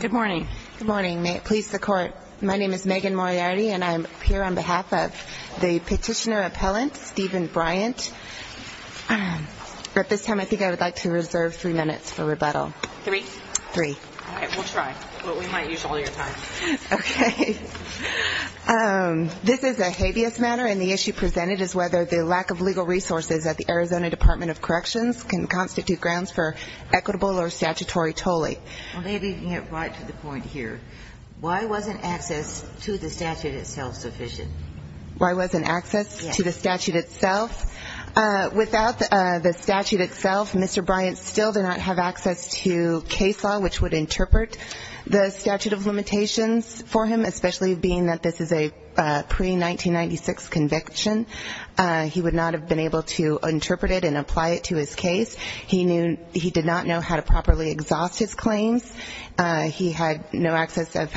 Good morning. Good morning. May it please the Court, my name is Megan Moriarty and I'm here on behalf of the Petitioner Appellant, Stephen Bryant. At this time I think I would like to reserve three minutes for rebuttal. Three? Three. All right, we'll try. We might use all your time. Okay. This is a habeas matter and the issue presented is whether the lack of legal resources at the Arizona Department of Corrections can constitute grounds for equitable or statutory tolling. Maybe you can get right to the point here. Why wasn't access to the statute itself sufficient? Why wasn't access to the statute itself? Without the statute itself, Mr. Bryant still did not have access to case law which would interpret the statute of limitations for him, especially being that this is a pre-1996 conviction. He would not have been able to interpret it and apply it to his case. He did not know how to properly exhaust his claims. He had no access of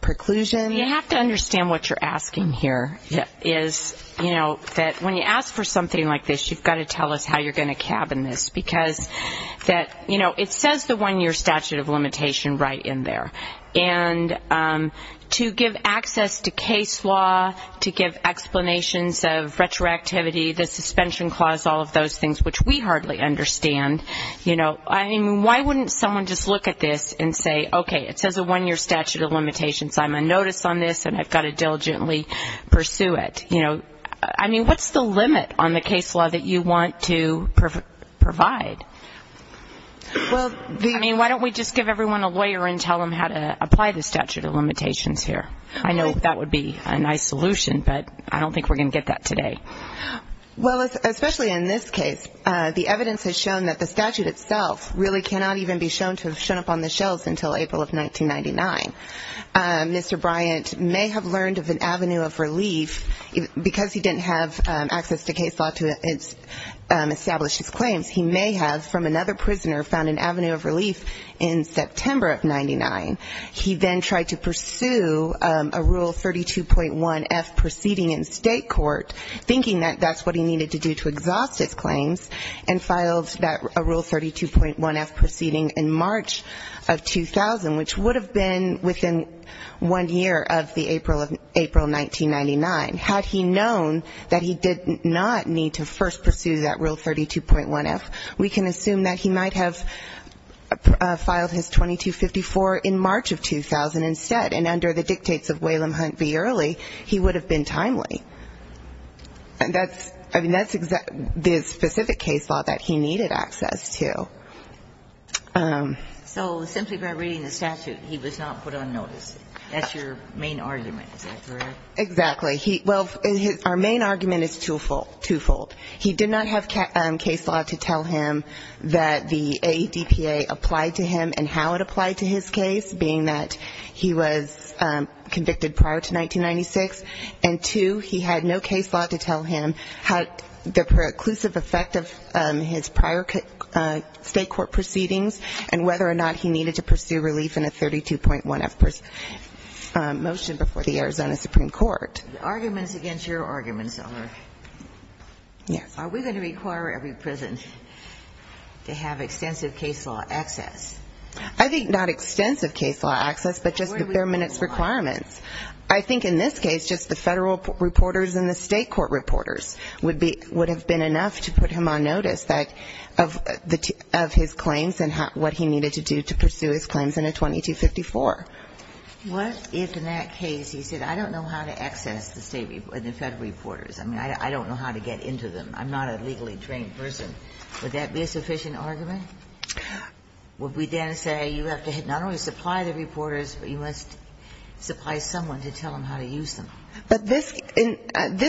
preclusion. You have to understand what you're asking here is, you know, that when you ask for something like this, you've got to tell us how you're going to cabin this. Because that, you know, it says the one-year statute of limitation right in there. And to give access to case law, to give explanations of retroactivity, the suspension clause, all of those things which we hardly understand, you know, I mean, why wouldn't someone just look at this and say, okay, it says a one-year statute of limitations. I'm on notice on this and I've got to diligently pursue it. You know, I mean, what's the limit on the case law that you want to provide? I mean, why don't we just give everyone a lawyer and tell them how to apply the statute of limitations here? I know that would be a nice solution, but I don't think we're going to get that today. Well, especially in this case, the evidence has shown that the statute itself really cannot even be shown to have shown up on the shelves until April of 1999. Mr. Bryant may have learned of an avenue of relief because he didn't have access to case law to establish his claims. He may have, from another prisoner, found an avenue of relief in September of 99. He then tried to pursue a Rule 32.1F proceeding in state court, thinking that that's what he needed to do to exhaust his claims, and filed that Rule 32.1F proceeding in March of 2000, which would have been within one year of the April of 1999. Had he known that he did not need to first pursue that Rule 32.1F, we can assume that he might have filed his 2254 in March of 2000. And under the dictates of Whalum Hunt v. Early, he would have been timely. I mean, that's the specific case law that he needed access to. So simply by reading the statute, he was not put on notice. That's your main argument, is that correct? Exactly. Well, our main argument is twofold. He did not have case law to tell him that the AEDPA applied to him and how it applied to his case, being that he was convicted prior to 1996. And two, he had no case law to tell him how the preclusive effect of his prior state court proceedings and whether or not he needed to pursue relief in a 32.1F motion before the Arizona Supreme Court. The arguments against your arguments are, are we going to require every prison to have extensive case law access? I think not extensive case law access, but just the permanent requirements. I think in this case, just the federal reporters and the state court reporters would have been enough to put him on notice of his claims and what he needed to do to pursue his claims in a 2254. What if in that case he said, I don't know how to access the federal reporters, I mean, I don't know how to get into them, I'm not a legally trained person, would that be a sufficient argument? Would we then say you have to not only supply the reporters, but you must supply someone to tell them how to use them? But this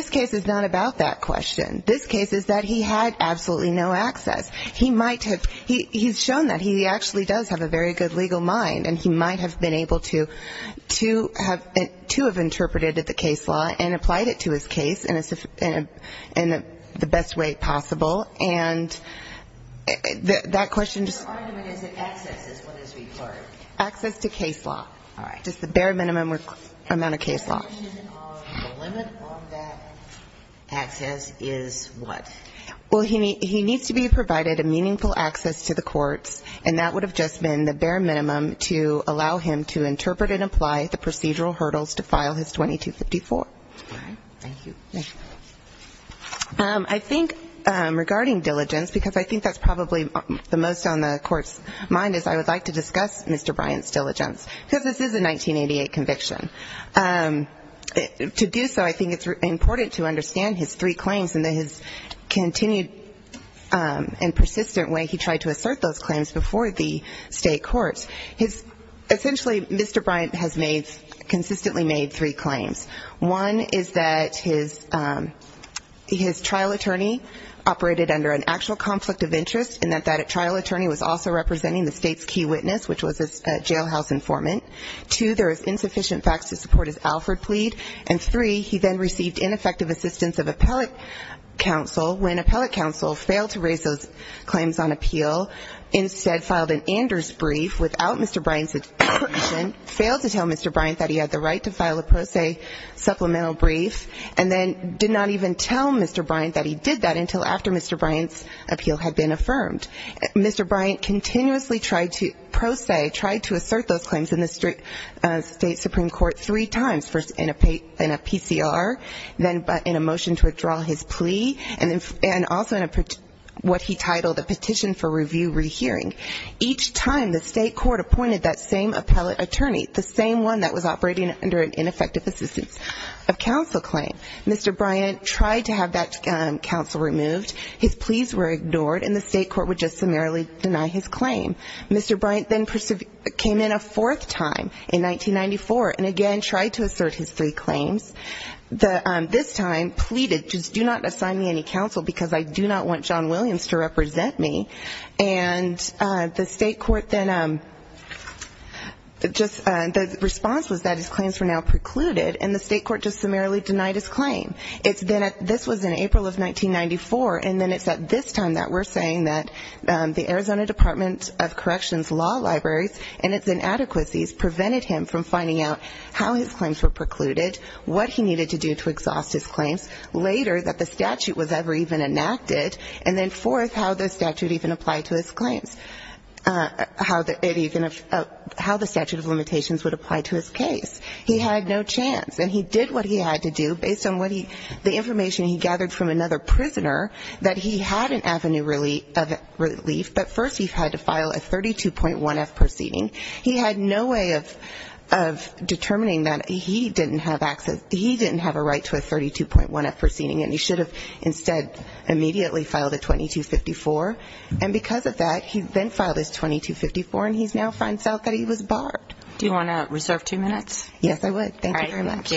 case is not about that question. This case is that he had absolutely no access. He might have, he's shown that, he actually does have a very good legal mind and he might have been able to have, to have interpreted the case law and applied it to his case in the best way possible. And that question just. Your argument is that access is what is required. Access to case law. All right. Just the bare minimum amount of case law. The limit on that access is what? Well, he needs to be provided a meaningful access to the courts. And that would have just been the bare minimum to allow him to interpret and apply the procedural hurdles to file his 2254. All right. Thank you. I think regarding diligence, because I think that's probably the most on the court's mind, is I would like to discuss Mr. Bryant's diligence. Because this is a 1988 conviction. To do so, I think it's important to understand his three claims and his continued and persistent way he tried to assert those claims before the state courts. Essentially, Mr. Bryant has made, consistently made three claims. One is that his trial attorney operated under an actual conflict of interest and that that trial attorney was also representing the state's key witness, which was a jailhouse informant. Two, there was insufficient facts to support his Alford plea. And three, he then received ineffective assistance of appellate counsel. When appellate counsel failed to raise those claims on appeal, instead filed an Anders brief without Mr. Bryant's permission, failed to tell Mr. Bryant that he had the right to file a pro se supplemental brief, and then did not even tell Mr. Bryant that he did that until after Mr. Bryant's appeal had been affirmed. Mr. Bryant continuously tried to pro se, tried to assert those claims in the state supreme court three times, first in a PCR, then in a motion to withdraw his plea, and also in what he titled a petition for review rehearing. Each time, the state court appointed that same appellate attorney, the same one that was operating under an ineffective assistance of counsel claim. Mr. Bryant tried to have that counsel removed. His pleas were ignored, and the state court would just summarily deny his claim. Mr. Bryant then came in a fourth time in 1994, and again tried to assert his three claims. This time pleaded, just do not assign me any counsel, because I do not want John Williams to represent me. And the state court then just the response was that his claims were now precluded, and the state court just summarily denied his claim. This was in April of 1994, and then it's at this time that we're saying that the Arizona Department of Corrections law libraries and its inadequacies prevented him from finding out how his claims were precluded, what he needed to do to exhaust his claims, later that the statute was ever even enacted, and then fourth, how the statute even applied to his claims. How the statute of limitations would apply to his case. He had no chance, and he did what he had to do, based on the information he gathered from another prisoner, that he had an avenue of relief, but first he had to file a 32.1F proceeding. He had no way of determining that he didn't have access, he didn't have a right to a 32.1F proceeding, and he should have instead immediately filed a 2254. And because of that, he then filed his 2254, and he now finds out that he was barred. Do you want to reserve two minutes? Yes, I would. Thank you very much.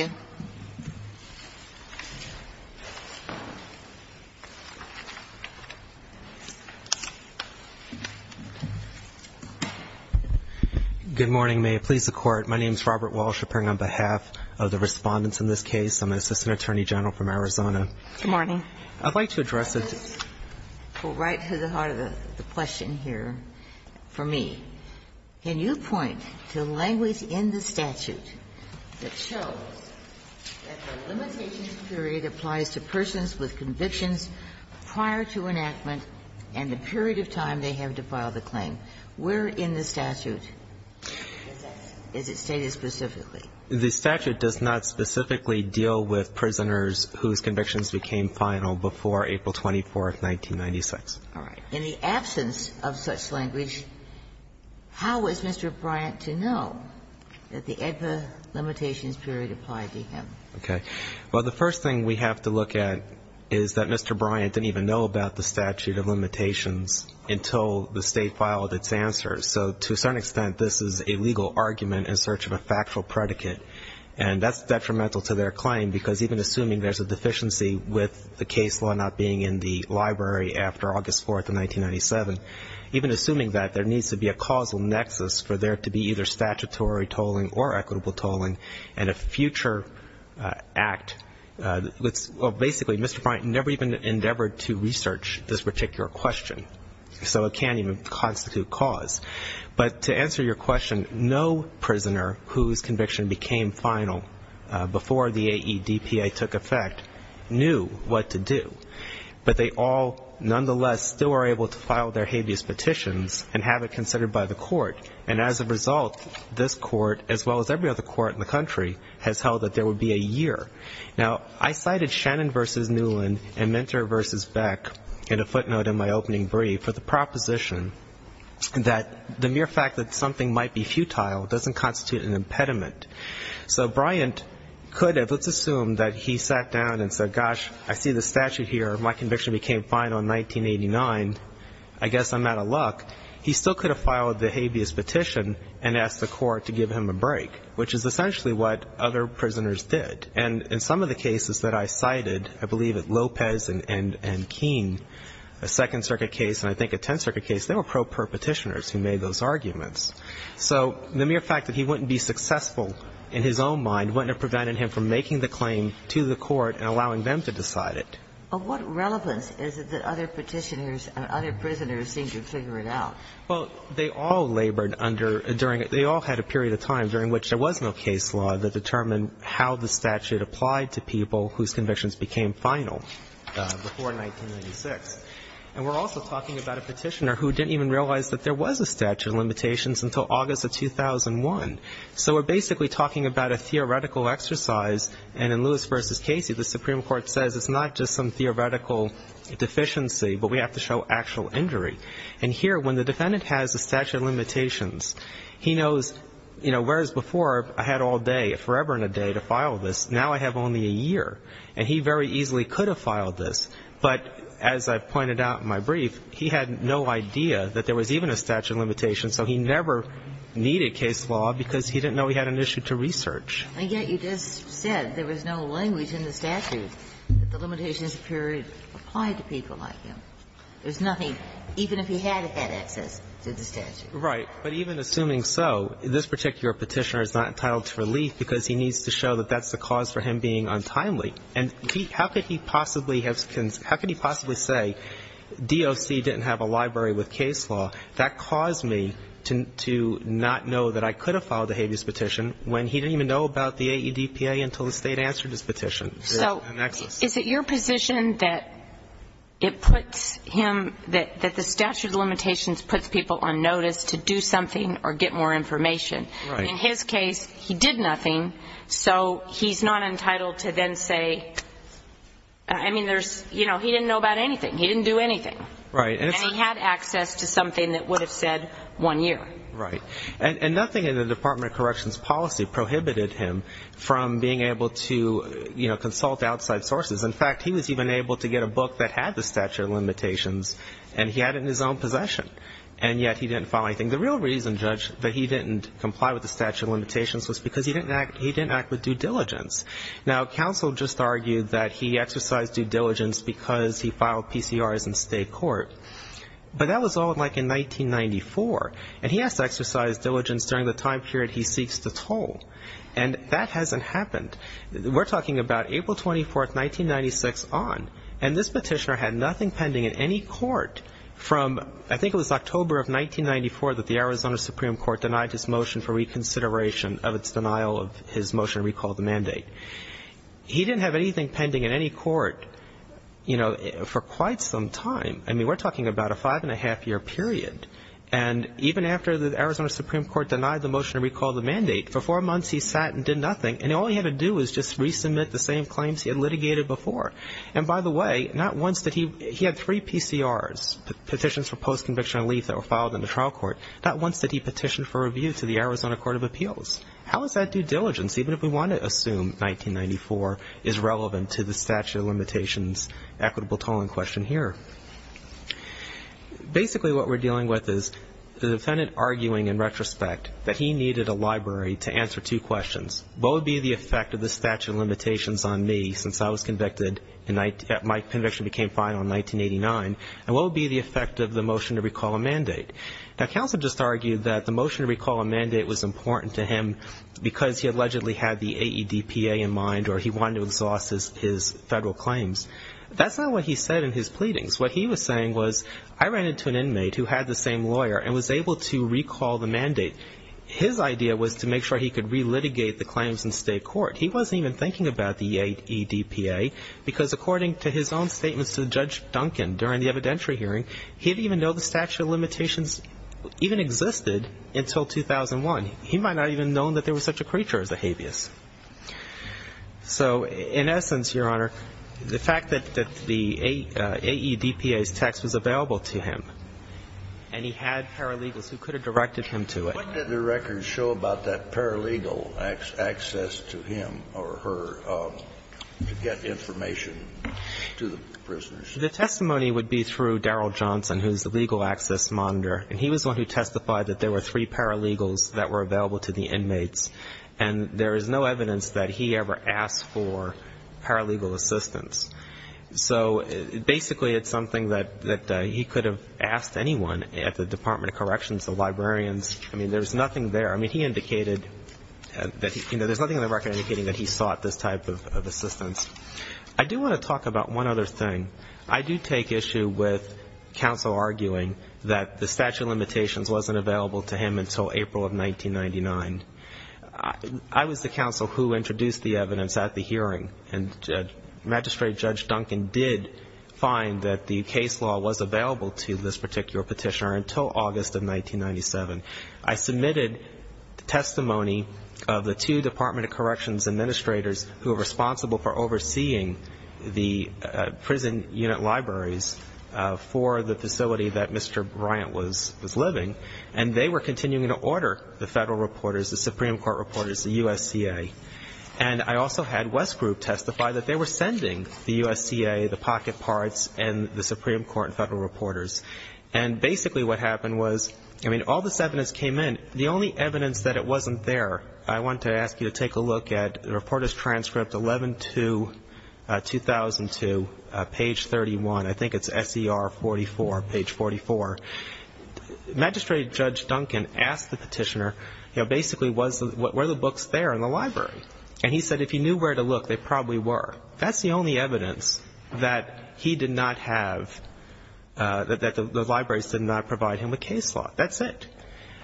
Good morning. May it please the Court. My name is Robert Walsh. I'm appearing on behalf of the Respondents in this case. I'm an assistant attorney general from Arizona. Good morning. I'd like to address a question. Go right to the heart of the question here for me. Can you point to language in the statute that shows that the limitations period applies to persons with convictions prior to enactment and the period of time they have to file the claim? Where in the statute is that? It's stated specifically. The statute does not specifically deal with prisoners whose convictions became final before April 24th, 1996. All right. In the absence of such language, how is Mr. Bryant to know that the AEDPA limitations period applied to him? Okay. Well, the first thing we have to look at is that Mr. Bryant didn't even know about the statute of limitations until the State filed its answers. So to a certain extent, this is a legal argument in search of a factual predicate. And that's detrimental to their claim because even assuming there's a deficiency with the case law not being in the library after August 4th of 1997, even assuming that, there needs to be a causal nexus for there to be either statutory tolling or equitable tolling and a future act. Basically, Mr. Bryant never even endeavored to research this particular question, so it can't even constitute cause. But to answer your question, no prisoner whose conviction became final before the AEDPA took effect knew what to do. But they all nonetheless still are able to file their habeas petitions and have it considered by the court. And as a result, this court, as well as every other court in the country, has held that there would be a year. Now, I cited Shannon v. Newland and Minter v. Beck in a footnote in my opening brief for the proposition that the mere fact that something might be futile doesn't constitute an impediment. So Bryant could have, let's assume that he sat down and said, gosh, I see the statute here, my conviction became final in 1989, I guess I'm out of luck. He still could have filed the habeas petition and asked the court to give him a break, which is essentially what other prisoners did. And in some of the cases that I cited, I believe at Lopez and Keene, a Second Circuit case and I think a Tenth Circuit case, they were pro-perpetitioners who made those arguments. So the mere fact that he wouldn't be successful in his own mind wouldn't have prevented him from making the claim to the court and allowing them to decide it. But what relevance is it that other petitioners and other prisoners seem to figure it out? Well, they all labored under, during, they all had a period of time during which there was no case law that determined how the statute applied to people whose convictions became final before 1996. And we're also talking about a petitioner who didn't even realize that there was a statute of limitations until August of 2001. So we're basically talking about a theoretical exercise, and in Lewis v. Casey, the Supreme Court says it's not just some theoretical deficiency, but we have to show actual injury. And here, when the defendant has a statute of limitations, he knows, you know, whereas before I had all day, forever and a day to file this, now I have only a year. And he very easily could have filed this, but as I pointed out in my brief, he had no idea that there was even a statute of limitations, so he never needed case law because he didn't know he had an issue to research. And yet you just said there was no language in the statute that the limitations period applied to people like him. There's nothing, even if he had had access to the statute. Right. But even assuming so, this particular petitioner is not entitled to relief because he needs to show that that's the cause for him being untimely. And how could he possibly have – how could he possibly say DOC didn't have a library with case law? That caused me to not know that I could have filed a habeas petition when he didn't even know about the AEDPA until the State answered his petition. So is it your position that it puts him – that the statute of limitations puts people on notice to do something or get more information? Right. In his case, he did nothing, so he's not entitled to then say – I mean, there's – you know, he didn't know about anything. He didn't do anything. Right. And he had access to something that would have said one year. Right. And nothing in the Department of Corrections policy prohibited him from being able to, you know, consult outside sources. In fact, he was even able to get a book that had the statute of limitations, and he had it in his own possession. And yet he didn't file anything. The real reason, Judge, that he didn't comply with the statute of limitations was because he didn't act with due diligence. Now, counsel just argued that he exercised due diligence because he filed PCRs in state court. But that was all, like, in 1994. And he has to exercise diligence during the time period he seeks to toll. And that hasn't happened. We're talking about April 24th, 1996 on. And this petitioner had nothing pending in any court from – I think it was October of 1994 that the Arizona Supreme Court denied his motion for reconsideration of its denial of his motion to recall the mandate. He didn't have anything pending in any court, you know, for quite some time. I mean, we're talking about a five-and-a-half-year period. And even after the Arizona Supreme Court denied the motion to recall the mandate, for four months he sat and did nothing, and all he had to do was just resubmit the same claims he had litigated before. And by the way, not once did he – he had three PCRs, petitions for post-conviction relief that were filed in the trial court. Not once did he petition for review to the Arizona Court of Appeals. How is that due diligence, even if we want to assume 1994 is relevant to the statute of limitations equitable tolling question here? Basically what we're dealing with is the defendant arguing in retrospect that he needed a library to answer two questions. What would be the effect of the statute of limitations on me since I was convicted and my conviction became final in 1989? And what would be the effect of the motion to recall a mandate? Now, counsel just argued that the motion to recall a mandate was important to him because he allegedly had the AEDPA in mind or he wanted to exhaust his federal claims. That's not what he said in his pleadings. What he was saying was I ran into an inmate who had the same lawyer and was able to recall the mandate. His idea was to make sure he could relitigate the claims in state court. He wasn't even thinking about the AEDPA because according to his own statements to Judge Duncan during the evidentiary hearing, he didn't even know the statute of limitations even existed until 2001. He might not have even known that there was such a creature as a habeas. So in essence, Your Honor, the fact that the AEDPA's text was available to him and he had paralegals who could have directed him to it. What did the records show about that paralegal access to him or her to get information to the prisoners? The testimony would be through Darrell Johnson, who is the legal access monitor. And he was the one who testified that there were three paralegals that were available to the inmates. And there is no evidence that he ever asked for paralegal assistance. So basically it's something that he could have asked anyone at the Department of Corrections, the librarians. I mean, there's nothing there. I mean, he indicated that he, you know, there's nothing in the record indicating that he sought this type of assistance. I do want to talk about one other thing. I do take issue with counsel arguing that the statute of limitations wasn't available to him until April of 1999. I was the counsel who introduced the evidence at the hearing. And Magistrate Judge Duncan did find that the case law was available to this particular petitioner until August of 1997. I submitted testimony of the two Department of Corrections administrators who are in Unit Libraries for the facility that Mr. Bryant was living. And they were continuing to order the federal reporters, the Supreme Court reporters, the USCA. And I also had West Group testify that they were sending the USCA, the pocket parts, and the Supreme Court and federal reporters. And basically what happened was, I mean, all this evidence came in. The only evidence that it wasn't there, I want to ask you to take a look at the page 31, I think it's SER 44, page 44. Magistrate Judge Duncan asked the petitioner, you know, basically, were the books there in the library? And he said if he knew where to look, they probably were. That's the only evidence that he did not have, that the libraries did not provide him with case law. That's it.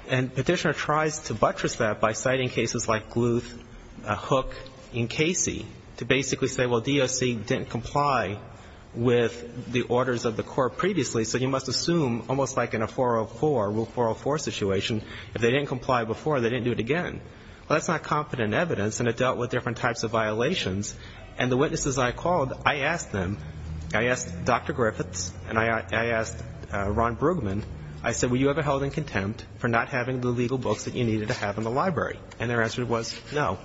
And the petitioner tries to buttress that by citing cases like Gluth, Hook, and Casey, to basically say, well, DOC didn't comply with the orders of the court previously, so you must assume, almost like in a 404, Rule 404 situation, if they didn't comply before, they didn't do it again. Well, that's not confident evidence, and it dealt with different types of violations. And the witnesses I called, I asked them, I asked Dr. Griffiths, and I asked Ron Brugman, I said, were you ever held in contempt for not having the legal books that you needed to have in the library? And their answer was no.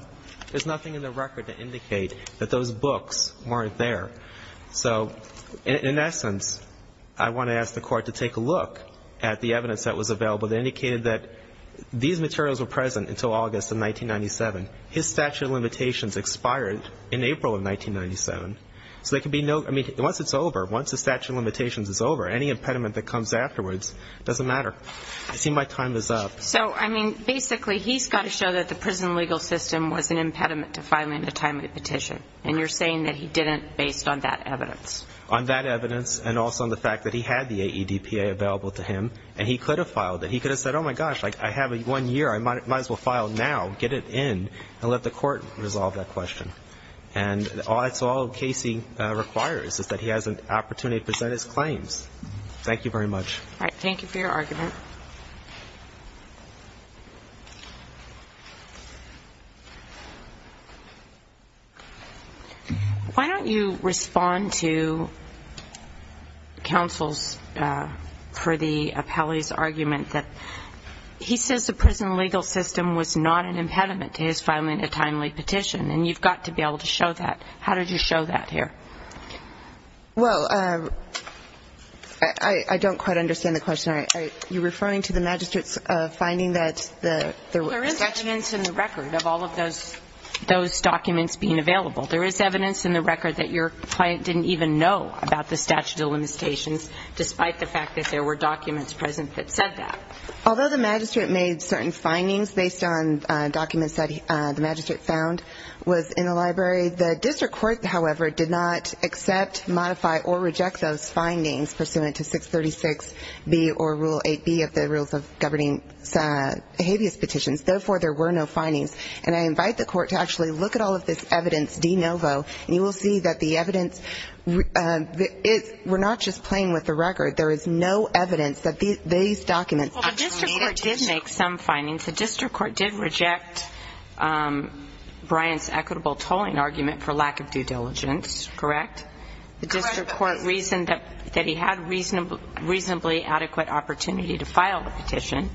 There's nothing in the record to indicate that those books weren't there. So in essence, I want to ask the Court to take a look at the evidence that was available that indicated that these materials were present until August of 1997. His statute of limitations expired in April of 1997. So there can be no ñ I mean, once it's over, once the statute of limitations is over, any impediment that comes afterwards doesn't matter. I see my time is up. So, I mean, basically, he's got to show that the prison legal system was an impediment to filing a timely petition. And you're saying that he didn't, based on that evidence. On that evidence, and also on the fact that he had the AEDPA available to him, and he could have filed it. He could have said, oh, my gosh, I have one year, I might as well file now, get it in, and let the Court resolve that question. And that's all Casey requires, is that he has an opportunity to present his claims. Thank you very much. All right, thank you for your argument. Why don't you respond to counsel's, for the appellee's argument that he says the prison legal system was not an impediment to his filing a timely petition, and you've got to be able to show that. How did you show that here? Well, I don't quite understand the question. Are you referring to the magistrate's finding that there was statute? There is evidence in the record of all of those documents being available. There is evidence in the record that your client didn't even know about the statute of limitations, despite the fact that there were documents present that said that. Although the magistrate made certain findings based on documents that the magistrate found was in the library, the district court, however, did not accept, modify, or reject those findings pursuant to 636B or Rule 8B of the Rules of Governing Habeas Petitions. Therefore, there were no findings. And I invite the court to actually look at all of this evidence de novo, and you will see that the evidence, we're not just playing with the record. There is no evidence that these documents are truncated. Well, the district court did make some findings. The district court did reject Bryant's equitable tolling argument for lack of due diligence, correct? Correct. The district court reasoned that he had reasonably adequate opportunity to file the petition.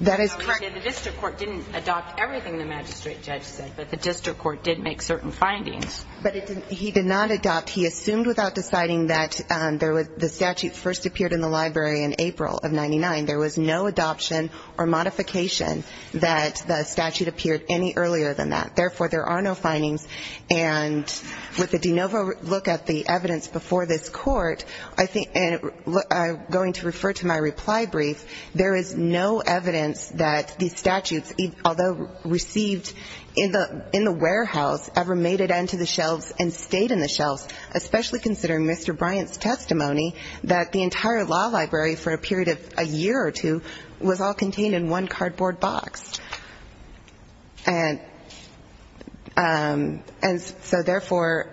That is correct. The district court didn't adopt everything the magistrate judge said, but the district court did make certain findings. But he did not adopt. He assumed without deciding that the statute first appeared in the library in April of 99. There was no adoption or modification that the statute appeared any earlier than that. Therefore, there are no findings. And with a de novo look at the evidence before this court, I think, and I'm going to refer to my reply brief, there is no evidence that these statutes, although received in the warehouse, especially considering Mr. Bryant's testimony, that the entire law library for a period of a year or two was all contained in one cardboard box. And so, therefore,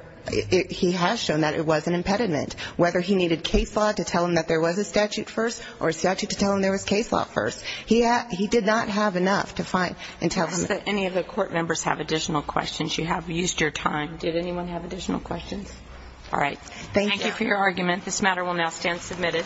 he has shown that it was an impediment, whether he needed case law to tell him that there was a statute first or a statute to tell him there was case law first. He did not have enough to find and tell him. I ask that any of the court members have additional questions. You have used your time. Did anyone have additional questions? All right. Thank you for your argument. This matter will now stand submitted.